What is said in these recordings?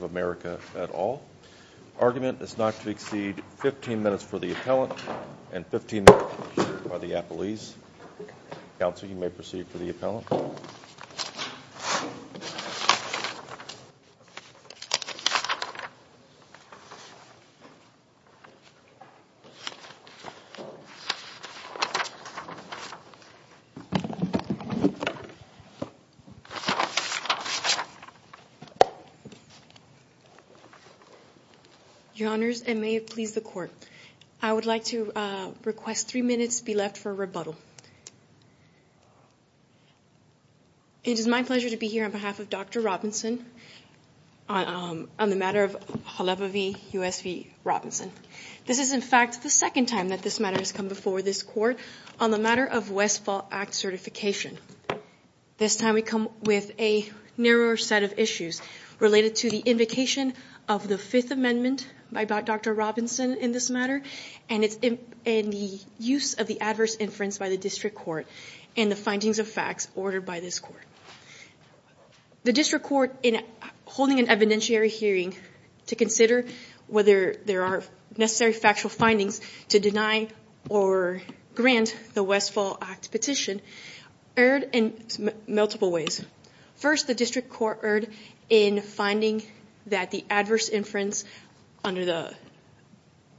of America at all. Argument is not to exceed 15 minutes for the appellant and 15 minutes by the appellees. Counsel, you may proceed for the appellant. Your Honors, and may it please the Court, I would like to request three minutes be left for rebuttal. It is my pleasure to be here on behalf of Dr. Robinson on the matter of Cholewa v. U.S. v. Robinson. This is, in fact, the second time that this matter has come before this Court on the matter of Westfall Act certification. This time we come with a narrower set of issues related to the invocation of the Fifth Amendment by Dr. Robinson in this matter and the use of the adverse inference by the District Court and the findings of facts ordered by this Court. The District Court, in holding an evidentiary hearing to consider whether there are necessary factual findings to deny or grant the Westfall Act petition, erred in multiple ways. First, the District Court erred in finding that the adverse inference under the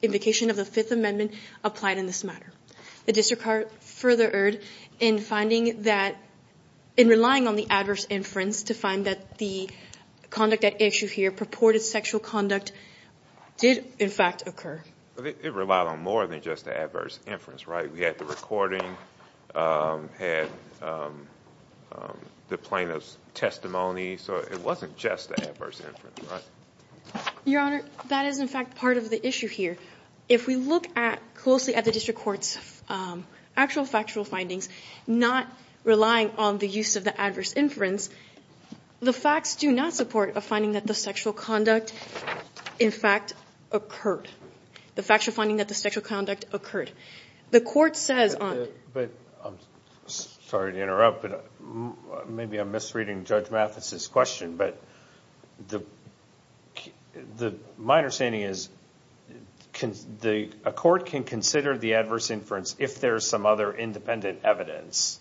invocation of the Fifth Amendment applied in this matter. The District Court further erred in relying on the adverse inference to find that the conduct at issue here, purported sexual conduct, did, in fact, occur. It relied on more than just the adverse inference, right? We had the recording, we had the plaintiff's testimony, so it wasn't just the adverse inference, right? Your Honor, that is, in fact, part of the issue here. If we look closely at the District Court's actual factual findings, not relying on the use of the adverse inference, the facts do not support a finding that the sexual conduct, in fact, occurred. The facts are finding that the sexual conduct occurred. The Court says on... I'm sorry to interrupt, but maybe I'm misreading Judge Mathis's question. My understanding is a court can consider the adverse inference if there's some other independent evidence.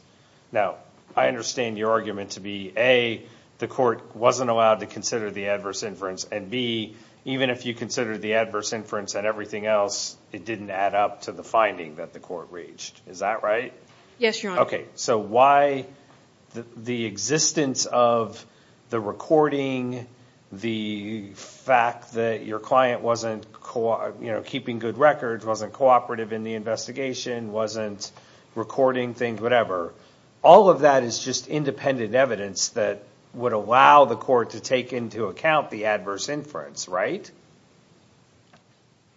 Now, I understand your argument to be, A, the Court wasn't allowed to consider the adverse inference, and, B, even if you considered the adverse inference and everything else, it didn't add up to the finding that the Court reached. Is that right? Yes, Your Honor. Okay, so why the existence of the recording, the fact that your client wasn't keeping good records, wasn't cooperative in the investigation, wasn't recording things, whatever, all of that is just independent evidence that would allow the Court to take into account the adverse inference, right?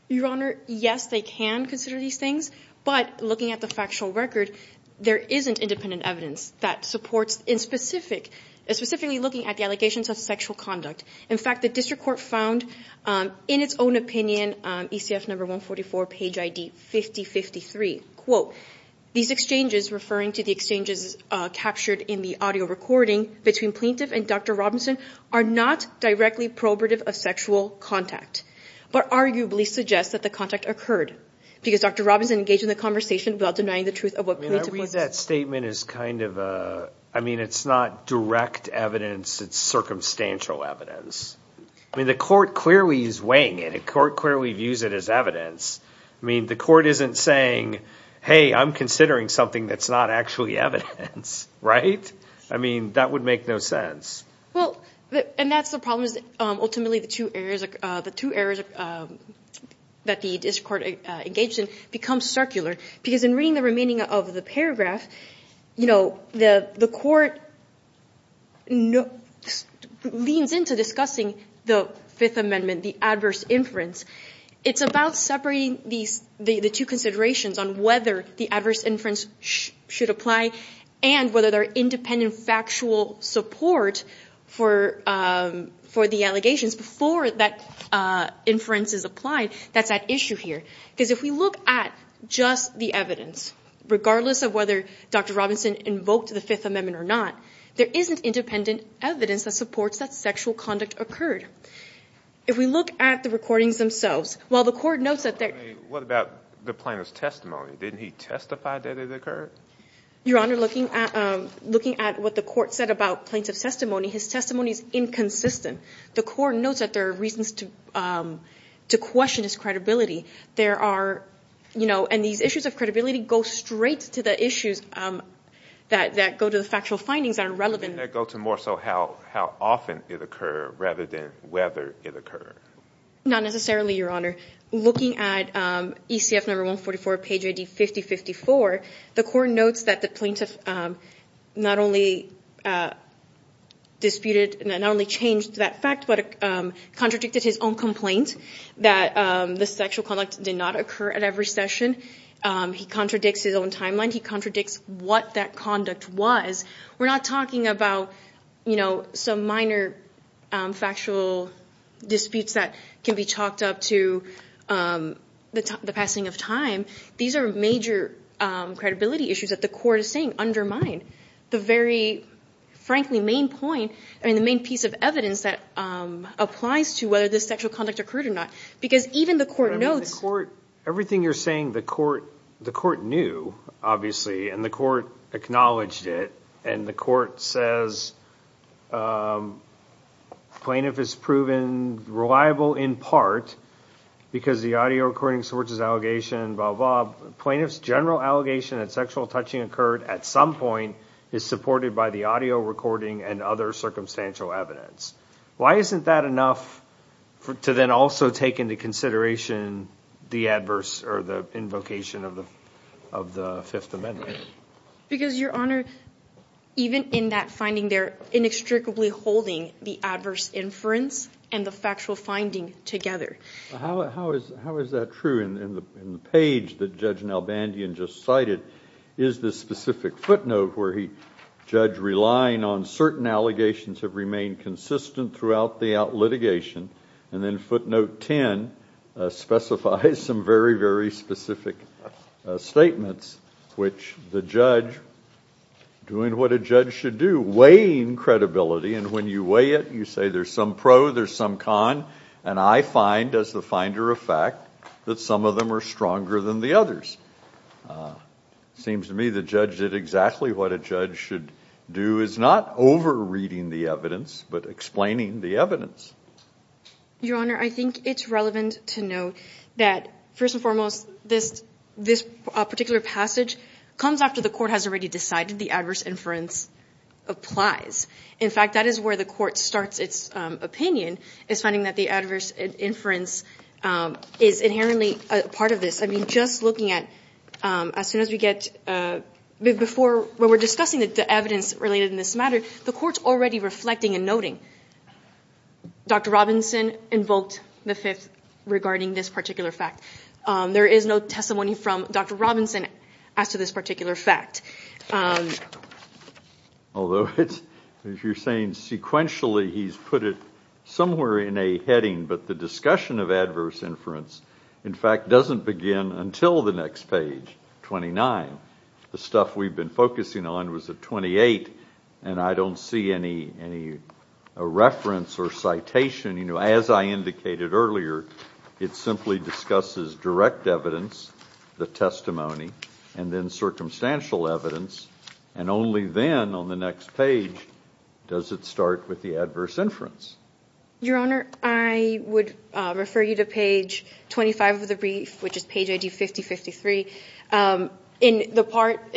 Your Honor, yes, they can consider these things, but looking at the factual record, there isn't independent evidence that supports specifically looking at the allegations of sexual conduct. In fact, the District Court found in its own opinion, ECF number 144, page ID 5053, quote, these exchanges, referring to the exchanges captured in the audio recording, between plaintiff and Dr. Robinson are not directly probative of sexual contact, but arguably suggest that the contact occurred because Dr. Robinson engaged in the conversation without denying the truth of what plaintiff said. I mean, I read that statement as kind of a, I mean, it's not direct evidence, it's circumstantial evidence. I mean, the Court clearly is weighing it. The Court clearly views it as evidence. I mean, the Court isn't saying, hey, I'm considering something that's not actually evidence, right? I mean, that would make no sense. Well, and that's the problem is ultimately the two errors that the District Court engaged in become circular because in reading the remaining of the paragraph, you know, the Court leans into discussing the Fifth Amendment, the adverse inference. It's about separating the two considerations on whether the adverse inference should apply and whether there are independent factual support for the allegations before that inference is applied. That's at issue here because if we look at just the evidence, regardless of whether Dr. Robinson invoked the Fifth Amendment or not, there isn't independent evidence that supports that sexual conduct occurred. If we look at the recordings themselves, while the Court notes that there... What about the plaintiff's testimony? Didn't he testify that it occurred? Your Honor, looking at what the Court said about plaintiff's testimony, his testimony is inconsistent. The Court notes that there are reasons to question his credibility. There are, you know, and these issues of credibility go straight to the issues that go to the factual findings that are relevant. Didn't that go to more so how often it occurred rather than whether it occurred? Not necessarily, Your Honor. Looking at ECF number 144, page ID 5054, the Court notes that the plaintiff not only disputed and not only changed that fact but contradicted his own complaint that the sexual conduct did not occur at every session. He contradicts his own timeline. He contradicts what that conduct was. We're not talking about, you know, some minor factual disputes that can be chalked up to the passing of time. These are major credibility issues that the Court is saying undermine the very, frankly, main point and the main piece of evidence that applies to whether this sexual conduct occurred or not because even the Court notes... Everything you're saying, the Court knew, obviously, and the Court acknowledged it, and the Court says the plaintiff is proven reliable in part because the audio recording supports his allegation, blah, blah. Plaintiff's general allegation that sexual touching occurred at some point is supported by the audio recording and other circumstantial evidence. Why isn't that enough to then also take into consideration the adverse or the invocation of the Fifth Amendment? Because, Your Honor, even in that finding, they're inextricably holding the adverse inference and the factual finding together. How is that true? In the page that Judge Nalbandian just cited is this specific footnote where the judge, relying on certain allegations, have remained consistent throughout the litigation, and then footnote 10 specifies some very, very specific statements, which the judge, doing what a judge should do, weighing credibility, and when you weigh it, you say there's some pro, there's some con, and I find, as the finder of fact, that some of them are stronger than the others. It seems to me the judge did exactly what a judge should do, is not over-reading the evidence, but explaining the evidence. Your Honor, I think it's relevant to note that, first and foremost, this particular passage comes after the Court has already decided the adverse inference applies. In fact, that is where the Court starts its opinion, is finding that the adverse inference is inherently part of this. I mean, just looking at, as soon as we get before, when we're discussing the evidence related in this matter, the Court's already reflecting and noting. Dr. Robinson invoked the Fifth regarding this particular fact. There is no testimony from Dr. Robinson as to this particular fact. Although, as you're saying, sequentially he's put it somewhere in a heading, but the discussion of adverse inference, in fact, doesn't begin until the next page, 29. The stuff we've been focusing on was at 28, and I don't see any reference or citation. As I indicated earlier, it simply discusses direct evidence, the testimony, and then circumstantial evidence, and only then on the next page does it start with the adverse inference. Your Honor, I would refer you to page 25 of the brief, which is page ID 5053. In the part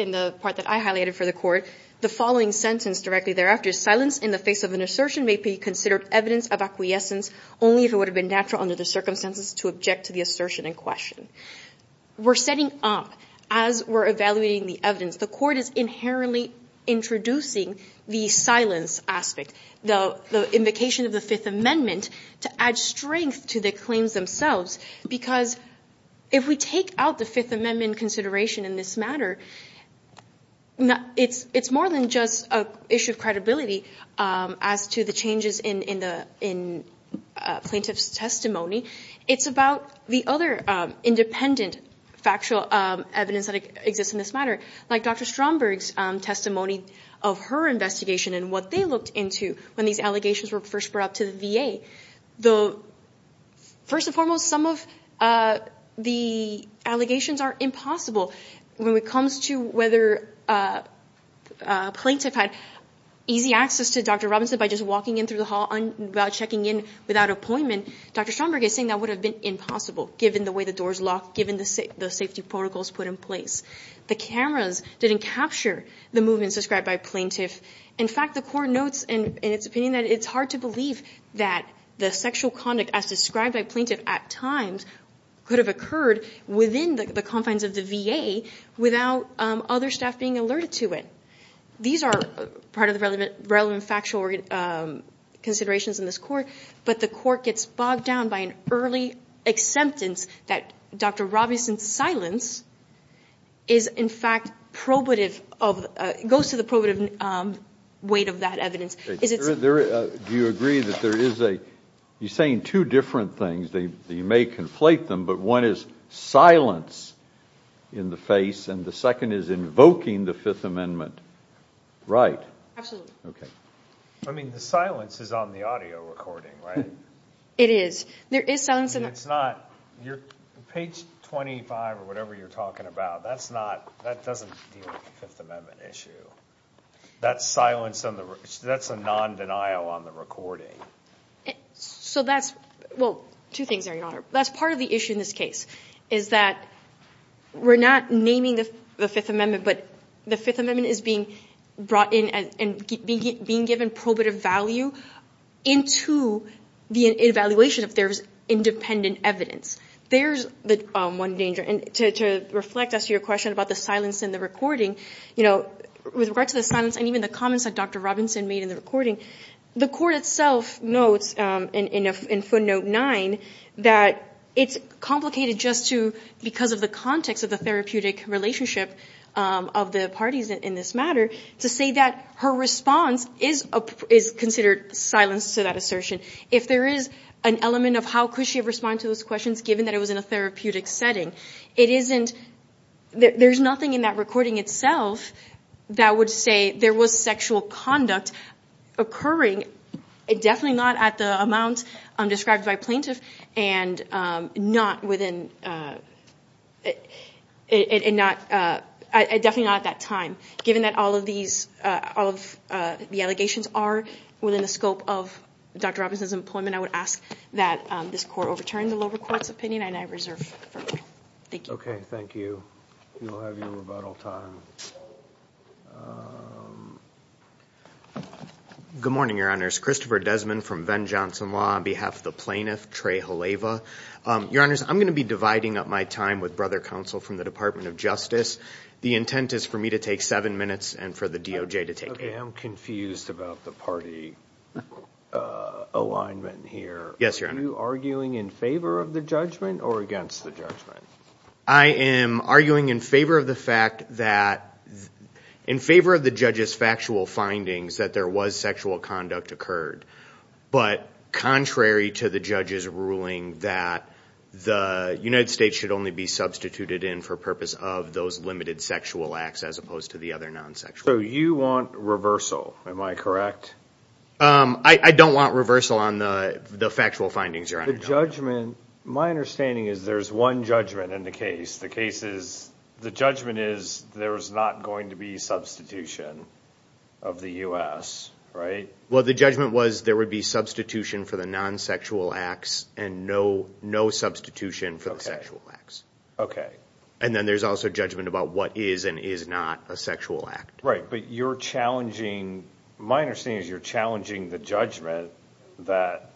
that I highlighted for the Court, the following sentence directly thereafter, which is, silence in the face of an assertion may be considered evidence of acquiescence only if it would have been natural under the circumstances to object to the assertion in question. We're setting up, as we're evaluating the evidence, the Court is inherently introducing the silence aspect, the invocation of the Fifth Amendment, to add strength to the claims themselves, because if we take out the Fifth Amendment consideration in this matter, it's more than just an issue of credibility as to the changes in plaintiff's testimony. It's about the other independent factual evidence that exists in this matter, like Dr. Stromberg's testimony of her investigation and what they looked into when these allegations were first brought up to the VA. First and foremost, some of the allegations are impossible. When it comes to whether a plaintiff had easy access to Dr. Robinson by just walking in through the hall, without checking in, without appointment, Dr. Stromberg is saying that would have been impossible, given the way the doors locked, given the safety protocols put in place. The cameras didn't capture the movements described by a plaintiff. In fact, the Court notes in its opinion that it's hard to believe that the sexual conduct as described by a plaintiff at times could have occurred within the confines of the VA without other staff being alerted to it. These are part of the relevant factual considerations in this Court, but the Court gets bogged down by an early acceptance that Dr. Robinson's silence is in fact probative, goes to the probative weight of that evidence. Do you agree that there is a – you're saying two different things. They may conflate them, but one is silence in the face, and the second is invoking the Fifth Amendment. Right. Absolutely. Okay. I mean, the silence is on the audio recording, right? It is. There is silence in the – Page 25 or whatever you're talking about, that's not – that doesn't deal with the Fifth Amendment issue. That's silence on the – that's a non-denial on the recording. So that's – well, two things, Your Honor. That's part of the issue in this case is that we're not naming the Fifth Amendment, but the Fifth Amendment is being brought in and being given probative value into the evaluation if there's independent evidence. There's one danger. And to reflect as to your question about the silence in the recording, you know, with regard to the silence and even the comments that Dr. Robinson made in the recording, the Court itself notes in footnote nine that it's complicated just to – of the parties in this matter to say that her response is considered silence to that assertion. If there is an element of how could she have responded to those questions given that it was in a therapeutic setting, it isn't – there's nothing in that recording itself that would say there was sexual conduct occurring, but definitely not at the amount described by plaintiff and not within – and not – definitely not at that time. Given that all of these – all of the allegations are within the scope of Dr. Robinson's employment, I would ask that this Court overturn the lower court's opinion, and I reserve further. Thank you. Okay, thank you. We'll have you about all time. Good morning, Your Honors. Christopher Desmond from Venn-Johnson Law on behalf of the plaintiff, Trey Haleva. Your Honors, I'm going to be dividing up my time with Brother Counsel from the Department of Justice. The intent is for me to take seven minutes and for the DOJ to take eight. Okay, I'm confused about the party alignment here. Yes, Your Honor. Are you arguing in favor of the judgment or against the judgment? I am arguing in favor of the fact that – in favor of the judge's factual findings that there was sexual conduct occurred, but contrary to the judge's ruling that the United States should only be substituted in for purpose of those limited sexual acts as opposed to the other non-sexual acts. So you want reversal, am I correct? I don't want reversal on the factual findings, Your Honor. The judgment – my understanding is there's one judgment in the case. The case is – the judgment is there's not going to be substitution of the U.S., right? Well, the judgment was there would be substitution for the non-sexual acts and no substitution for the sexual acts. Okay. And then there's also judgment about what is and is not a sexual act. Right, but you're challenging – my understanding is you're challenging the judgment that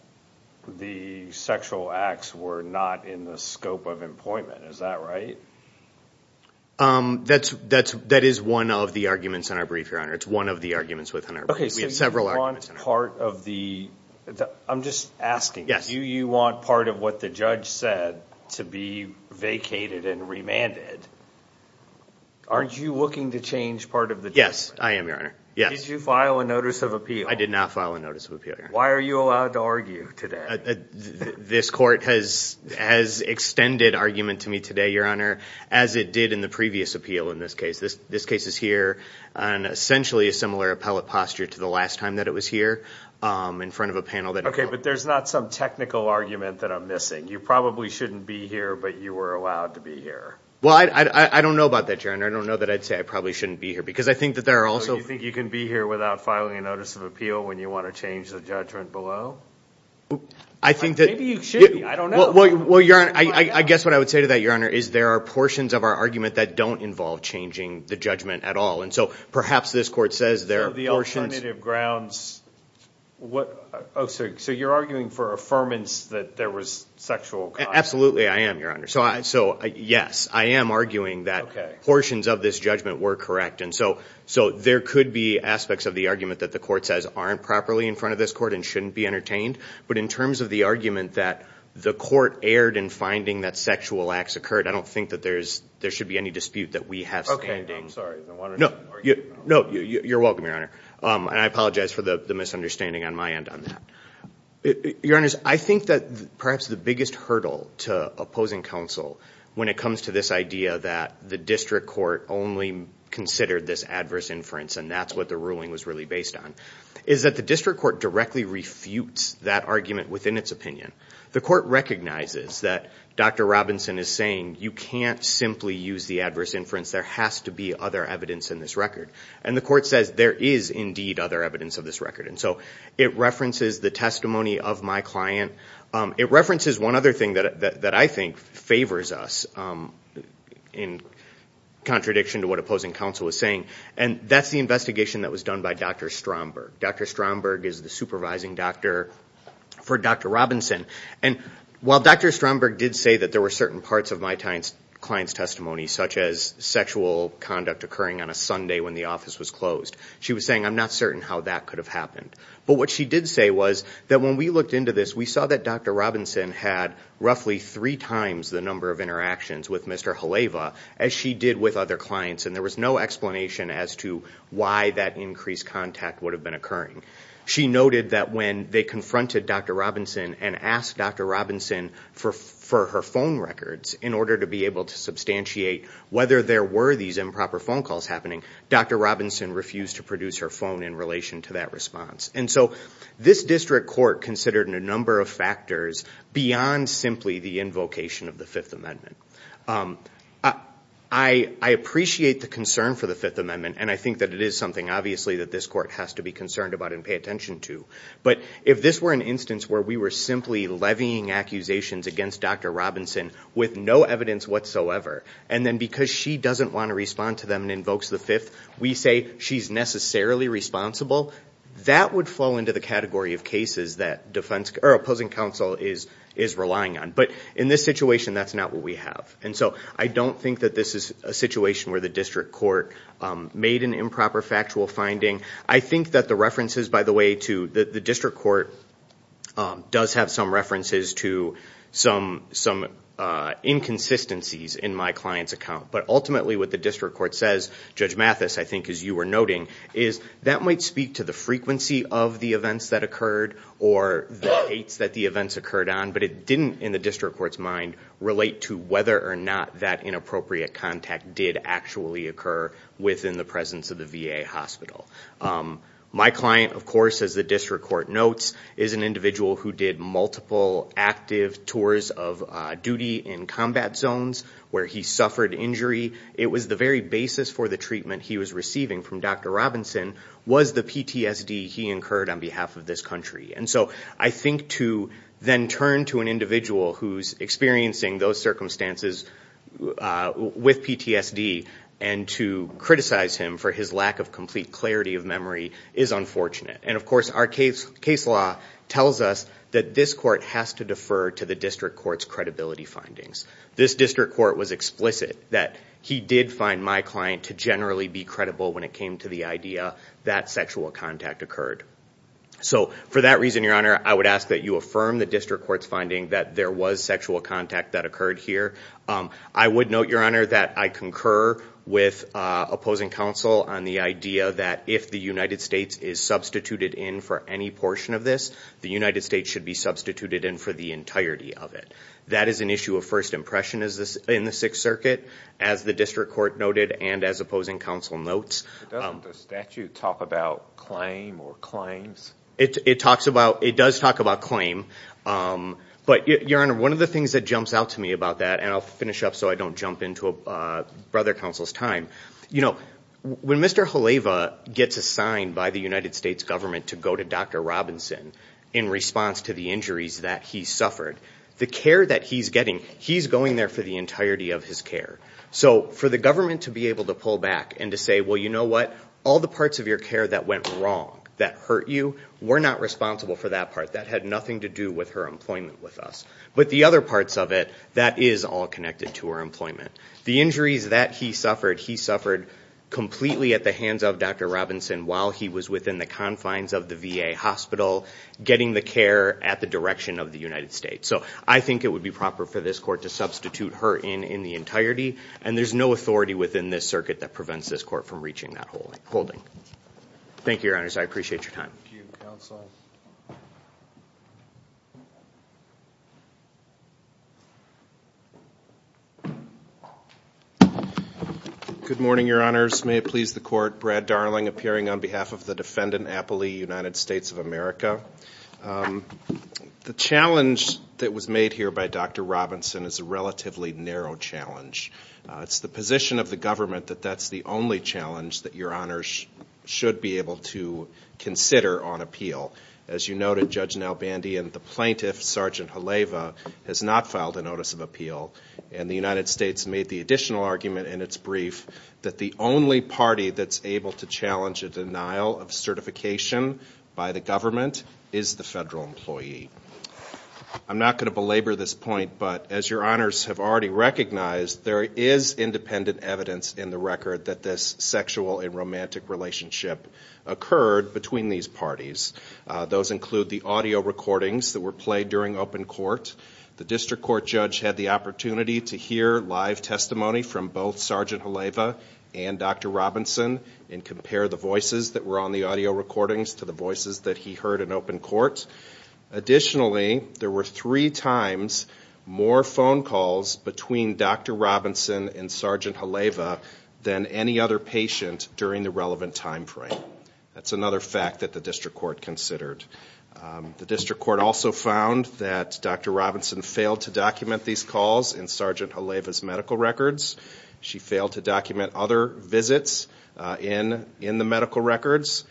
the sexual acts were not in the scope of employment. Is that right? That is one of the arguments in our brief, Your Honor. It's one of the arguments within our brief. Okay, so you want part of the – I'm just asking. Yes. Do you want part of what the judge said to be vacated and remanded? Are you looking to change part of the judgment? Yes, I am, Your Honor. Yes. Did you file a notice of appeal? I did not file a notice of appeal, Your Honor. Why are you allowed to argue today? This court has extended argument to me today, Your Honor, as it did in the previous appeal in this case. This case is here on essentially a similar appellate posture to the last time that it was here in front of a panel that – Okay, but there's not some technical argument that I'm missing. You probably shouldn't be here, but you were allowed to be here. Well, I don't know about that, Your Honor. I don't know that I'd say I probably shouldn't be here because I think that there are also – So you think you can be here without filing a notice of appeal when you want to change the judgment below? I think that – Maybe you should. I don't know. Well, Your Honor, I guess what I would say to that, Your Honor, is there are portions of our argument that don't involve changing the judgment at all. And so perhaps this court says there are portions – So the alternative grounds – oh, sorry. So you're arguing for affirmance that there was sexual conduct. Absolutely, I am, Your Honor. So, yes, I am arguing that portions of this judgment were correct. And so there could be aspects of the argument that the court says aren't properly in front of this court and shouldn't be entertained. But in terms of the argument that the court erred in finding that sexual acts occurred, I don't think that there should be any dispute that we have standing. Okay, I'm sorry. No, you're welcome, Your Honor. And I apologize for the misunderstanding on my end on that. Your Honors, I think that perhaps the biggest hurdle to opposing counsel when it comes to this idea that the district court only considered this adverse inference and that's what the ruling was really based on is that the district court directly refutes that argument within its opinion. The court recognizes that Dr. Robinson is saying you can't simply use the adverse inference. There has to be other evidence in this record. And the court says there is indeed other evidence of this record. And so it references the testimony of my client. It references one other thing that I think favors us in contradiction to what opposing counsel was saying, and that's the investigation that was done by Dr. Stromberg. Dr. Stromberg is the supervising doctor for Dr. Robinson. And while Dr. Stromberg did say that there were certain parts of my client's testimony, such as sexual conduct occurring on a Sunday when the office was closed, she was saying I'm not certain how that could have happened. But what she did say was that when we looked into this, we saw that Dr. Robinson had roughly three times the number of interactions with Mr. Haleva as she did with other clients, and there was no explanation as to why that increased contact would have been occurring. She noted that when they confronted Dr. Robinson and asked Dr. Robinson for her phone records in order to be able to substantiate whether there were these improper phone calls happening, Dr. Robinson refused to produce her phone in relation to that response. And so this district court considered a number of factors beyond simply the invocation of the Fifth Amendment. I appreciate the concern for the Fifth Amendment, and I think that it is something, obviously, that this court has to be concerned about and pay attention to. But if this were an instance where we were simply levying accusations against Dr. Robinson with no evidence whatsoever, and then because she doesn't want to respond to them and invokes the Fifth, we say she's necessarily responsible, that would flow into the category of cases that opposing counsel is relying on. But in this situation, that's not what we have. And so I don't think that this is a situation where the district court made an improper factual finding. I think that the references, by the way, to the district court does have some references to some inconsistencies in my client's account. But ultimately what the district court says, Judge Mathis, I think as you were noting, is that might speak to the frequency of the events that occurred or the dates that the events occurred on, but it didn't, in the district court's mind, relate to whether or not that inappropriate contact did actually occur within the presence of the VA hospital. My client, of course, as the district court notes, is an individual who did multiple active tours of duty in combat zones where he suffered injury. It was the very basis for the treatment he was receiving from Dr. Robinson was the PTSD he incurred on behalf of this country. And so I think to then turn to an individual who's experiencing those circumstances with PTSD and to criticize him for his lack of complete clarity of memory is unfortunate. And, of course, our case law tells us that this court has to defer to the district court's credibility findings. This district court was explicit that he did find my client to generally be credible when it came to the idea that sexual contact occurred. So for that reason, Your Honor, I would ask that you affirm the district court's finding that there was sexual contact that occurred here. I would note, Your Honor, that I concur with opposing counsel on the idea that if the United States is substituted in for any portion of this, the United States should be substituted in for the entirety of it. That is an issue of first impression in the Sixth Circuit, as the district court noted and as opposing counsel notes. Does the statute talk about claim or claims? It does talk about claim. But, Your Honor, one of the things that jumps out to me about that, and I'll finish up so I don't jump into Brother Counsel's time. You know, when Mr. Haleva gets assigned by the United States government to go to Dr. Robinson in response to the injuries that he suffered, the care that he's getting, he's going there for the entirety of his care. So for the government to be able to pull back and to say, well, you know what? All the parts of your care that went wrong, that hurt you, were not responsible for that part. That had nothing to do with her employment with us. But the other parts of it, that is all connected to her employment. The injuries that he suffered, he suffered completely at the hands of Dr. Robinson while he was within the confines of the VA hospital, getting the care at the direction of the United States. So I think it would be proper for this court to substitute her in in the entirety, and there's no authority within this circuit that prevents this court from reaching that holding. Thank you, Your Honors. I appreciate your time. Thank you, Counsel. Good morning, Your Honors. May it please the court. Brad Darling appearing on behalf of the defendant, Appley, United States of America. The challenge that was made here by Dr. Robinson is a relatively narrow challenge. It's the position of the government that that's the only challenge that Your Honors should be able to consider on appeal. As you noted, Judge Nalbandi and the plaintiff, Sergeant Haleva, has not filed a notice of appeal, and the United States made the additional argument in its brief that the only party that's able to challenge a denial of certification by the government is the federal employee. I'm not going to belabor this point, but as Your Honors have already recognized, there is independent evidence in the record that this sexual and romantic relationship occurred between these parties. Those include the audio recordings that were played during open court. The district court judge had the opportunity to hear live testimony from both Sergeant Haleva and Dr. Robinson and compare the voices that were on the audio recordings to the voices that he heard in open court. Additionally, there were three times more phone calls between Dr. Robinson and Sergeant Haleva than any other patient during the relevant time frame. That's another fact that the district court considered. The district court also found that Dr. Robinson failed to document these calls in Sergeant Haleva's medical records. She failed to document other visits in the medical records.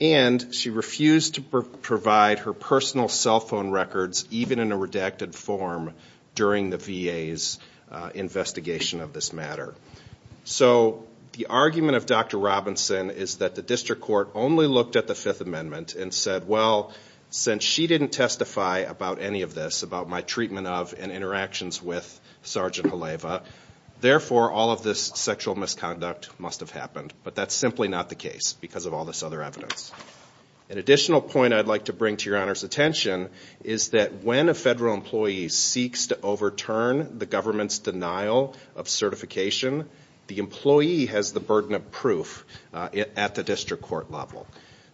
And she refused to provide her personal cell phone records, even in a redacted form, during the VA's investigation of this matter. So the argument of Dr. Robinson is that the district court only looked at the Fifth Amendment and said, well, since she didn't testify about any of this, about my treatment of and interactions with Sergeant Haleva, therefore all of this sexual misconduct must have happened. But that's simply not the case because of all this other evidence. An additional point I'd like to bring to your Honor's attention is that when a federal employee seeks to overturn the government's denial of certification, the employee has the burden of proof at the district court level.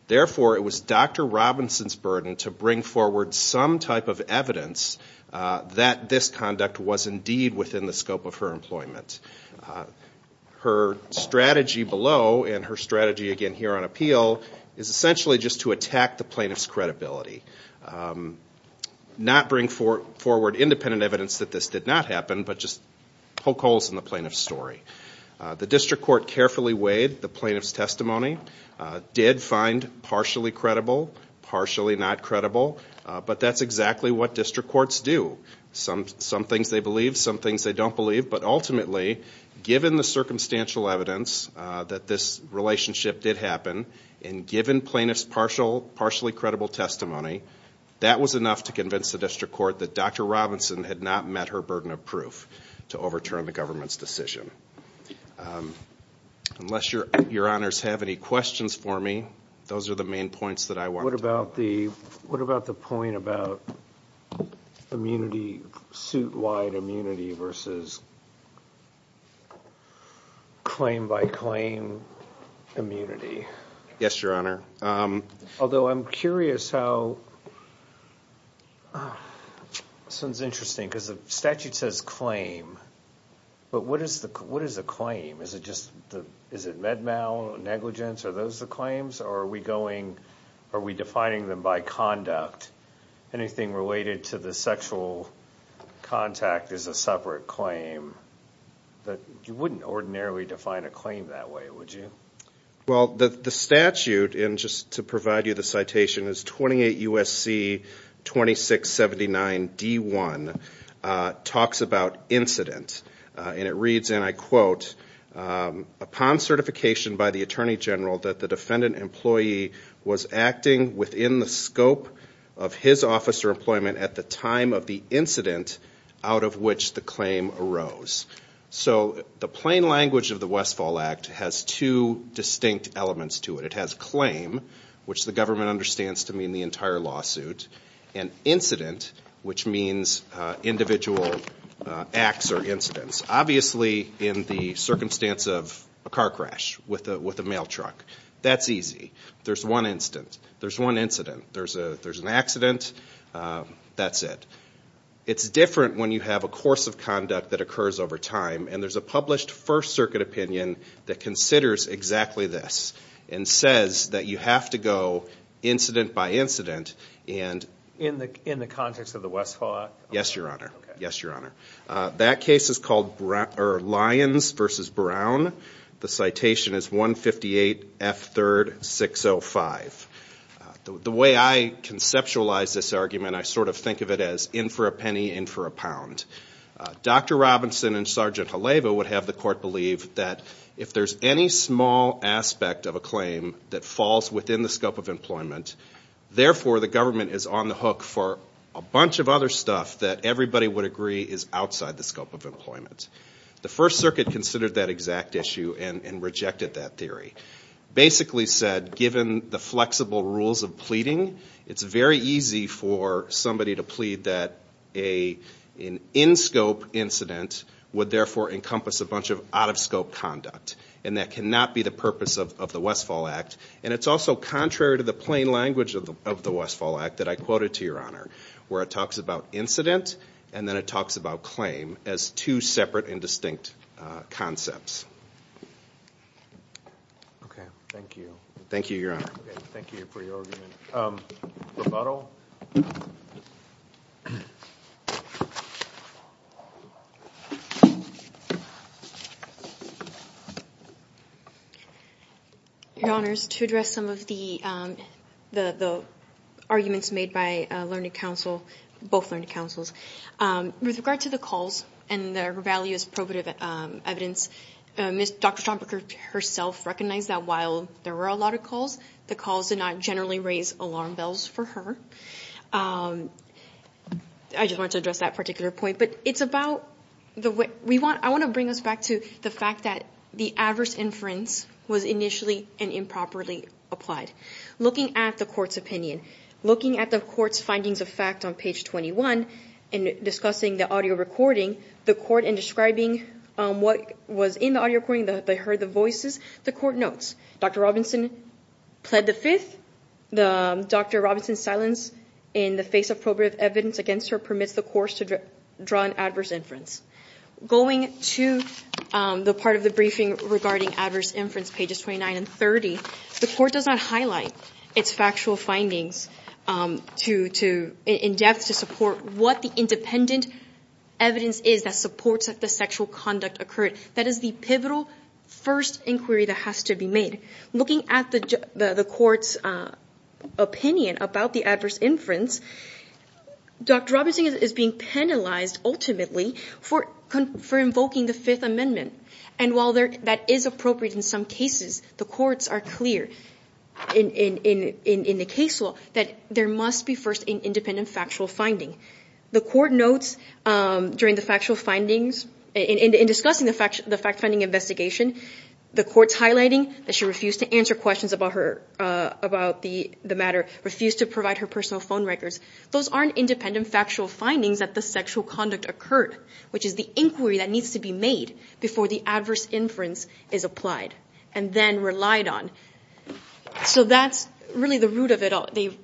Therefore, it was Dr. Robinson's burden to bring forward some type of evidence that this conduct was indeed within the scope of her employment. Her strategy below, and her strategy again here on appeal, is essentially just to attack the plaintiff's credibility. Not bring forward independent evidence that this did not happen, but just poke holes in the plaintiff's story. The district court carefully weighed the plaintiff's testimony, did find partially credible, partially not credible, but that's exactly what district courts do. Some things they believe, some things they don't believe, but ultimately, given the circumstantial evidence that this relationship did happen, and given plaintiff's partially credible testimony, that was enough to convince the district court that Dr. Robinson had not met her burden of proof to overturn the government's decision. Unless your Honors have any questions for me, those are the main points that I wanted to make. What about the point about suit-wide immunity versus claim-by-claim immunity? Yes, Your Honor. Although I'm curious how... This one's interesting because the statute says claim, but what is a claim? Is it med-mal negligence, are those the claims, or are we defining them by conduct? Anything related to the sexual contact is a separate claim. You wouldn't ordinarily define a claim that way, would you? Well, the statute, and just to provide you the citation, is 28 U.S.C. 2679 D.1. talks about incident, and it reads, and I quote, upon certification by the Attorney General that the defendant employee was acting within the scope of his office or employment at the time of the incident out of which the claim arose. So the plain language of the Westfall Act has two distinct elements to it. It has claim, which the government understands to mean the entire lawsuit, and incident, which means individual acts or incidents. Obviously in the circumstance of a car crash with a mail truck. That's easy. There's one incident. There's an accident. That's it. It's different when you have a course of conduct that occurs over time, and there's a published First Circuit opinion that considers exactly this and says that you have to go incident by incident. In the context of the Westfall Act? Yes, Your Honor. That case is called Lyons v. Brown. The citation is 158 F. 3rd. 605. The way I conceptualize this argument, I sort of think of it as in for a penny, in for a pound. Dr. Robinson and Sergeant Haleva would have the court believe that if there's any small aspect of a claim that falls within the scope of employment, therefore the government is on the hook for a bunch of other stuff that everybody would agree is outside the scope of employment. The First Circuit considered that exact issue and rejected that theory. Basically said, given the flexible rules of pleading, it's very easy for somebody to plead that an in-scope incident would therefore encompass a bunch of out-of-scope conduct, and that cannot be the purpose of the Westfall Act. It's also contrary to the plain language of the Westfall Act that I quoted to Your Honor, where it talks about incident and then it talks about claim as two separate and distinct concepts. Okay. Thank you. Thank you, Your Honor. Thank you for your argument. Rebuttal? Your Honor, to address some of the arguments made by learning counsel, both learning counsels, with regard to the calls and their value as probative evidence, Dr. Stromberger herself recognized that while there were a lot of calls, the calls did not generally raise alarm bells for her. I just wanted to address that particular point. But I want to bring us back to the fact that the adverse inference was initially and improperly applied. Looking at the court's opinion, looking at the court's findings of fact on page 21 and discussing the audio recording, the court in describing what was in the audio recording, they heard the voices, the court notes, Dr. Robinson pled the fifth, Dr. Robinson's silence in the face of probative evidence against her permits the court to draw an adverse inference. Going to the part of the briefing regarding adverse inference, pages 29 and 30, the court does not highlight its factual findings in depth to support what the independent evidence is that supports that the sexual conduct occurred. That is the pivotal first inquiry that has to be made. Looking at the court's opinion about the adverse inference, Dr. Robinson is being penalized, ultimately, for invoking the Fifth Amendment. And while that is appropriate in some cases, the courts are clear in the case law that there must be first an independent factual finding. The court notes during the factual findings, in discussing the fact finding investigation, the court's highlighting that she refused to answer questions about her, about the matter, refused to provide her personal phone records. Those aren't independent factual findings that the sexual conduct occurred, which is the inquiry that needs to be made before the adverse inference is applied and then relied on. So that's really the root of it all. The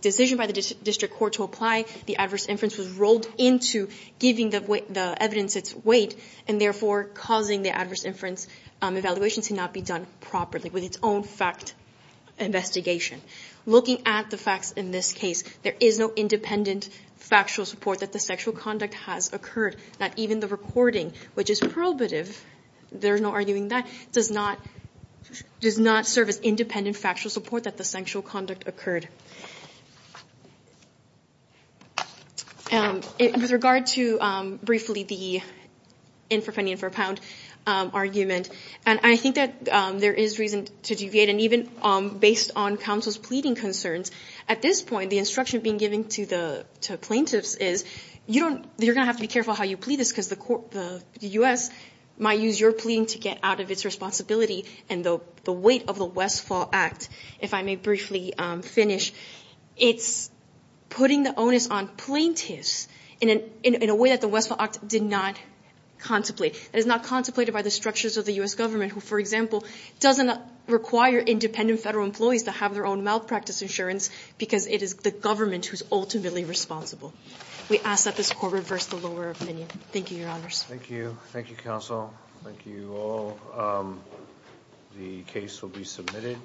decision by the district court to apply the adverse inference was rolled into giving the evidence its weight, and therefore causing the adverse inference evaluation to not be done properly with its own fact investigation. Looking at the facts in this case, there is no independent factual support that the sexual conduct has occurred, that even the recording, which is probative, there's no arguing that, does not serve as independent factual support that the sexual conduct occurred. With regard to, briefly, the in-for-penny-in-for-a-pound argument, and I think that there is reason to deviate, and even based on counsel's pleading concerns, at this point the instruction being given to the plaintiffs is, you're going to have to be careful how you plead this because the U.S. might use your pleading to get out of its responsibility, and the weight of the Westfall Act, if I may briefly finish, it's putting the onus on plaintiffs in a way that the Westfall Act did not contemplate. It is not contemplated by the structures of the U.S. government, who, for example, doesn't require independent federal employees to have their own malpractice insurance because it is the government who is ultimately responsible. We ask that this court reverse the lower opinion. Thank you, Your Honors. Thank you. Thank you, counsel. Thank you all. The case will be submitted.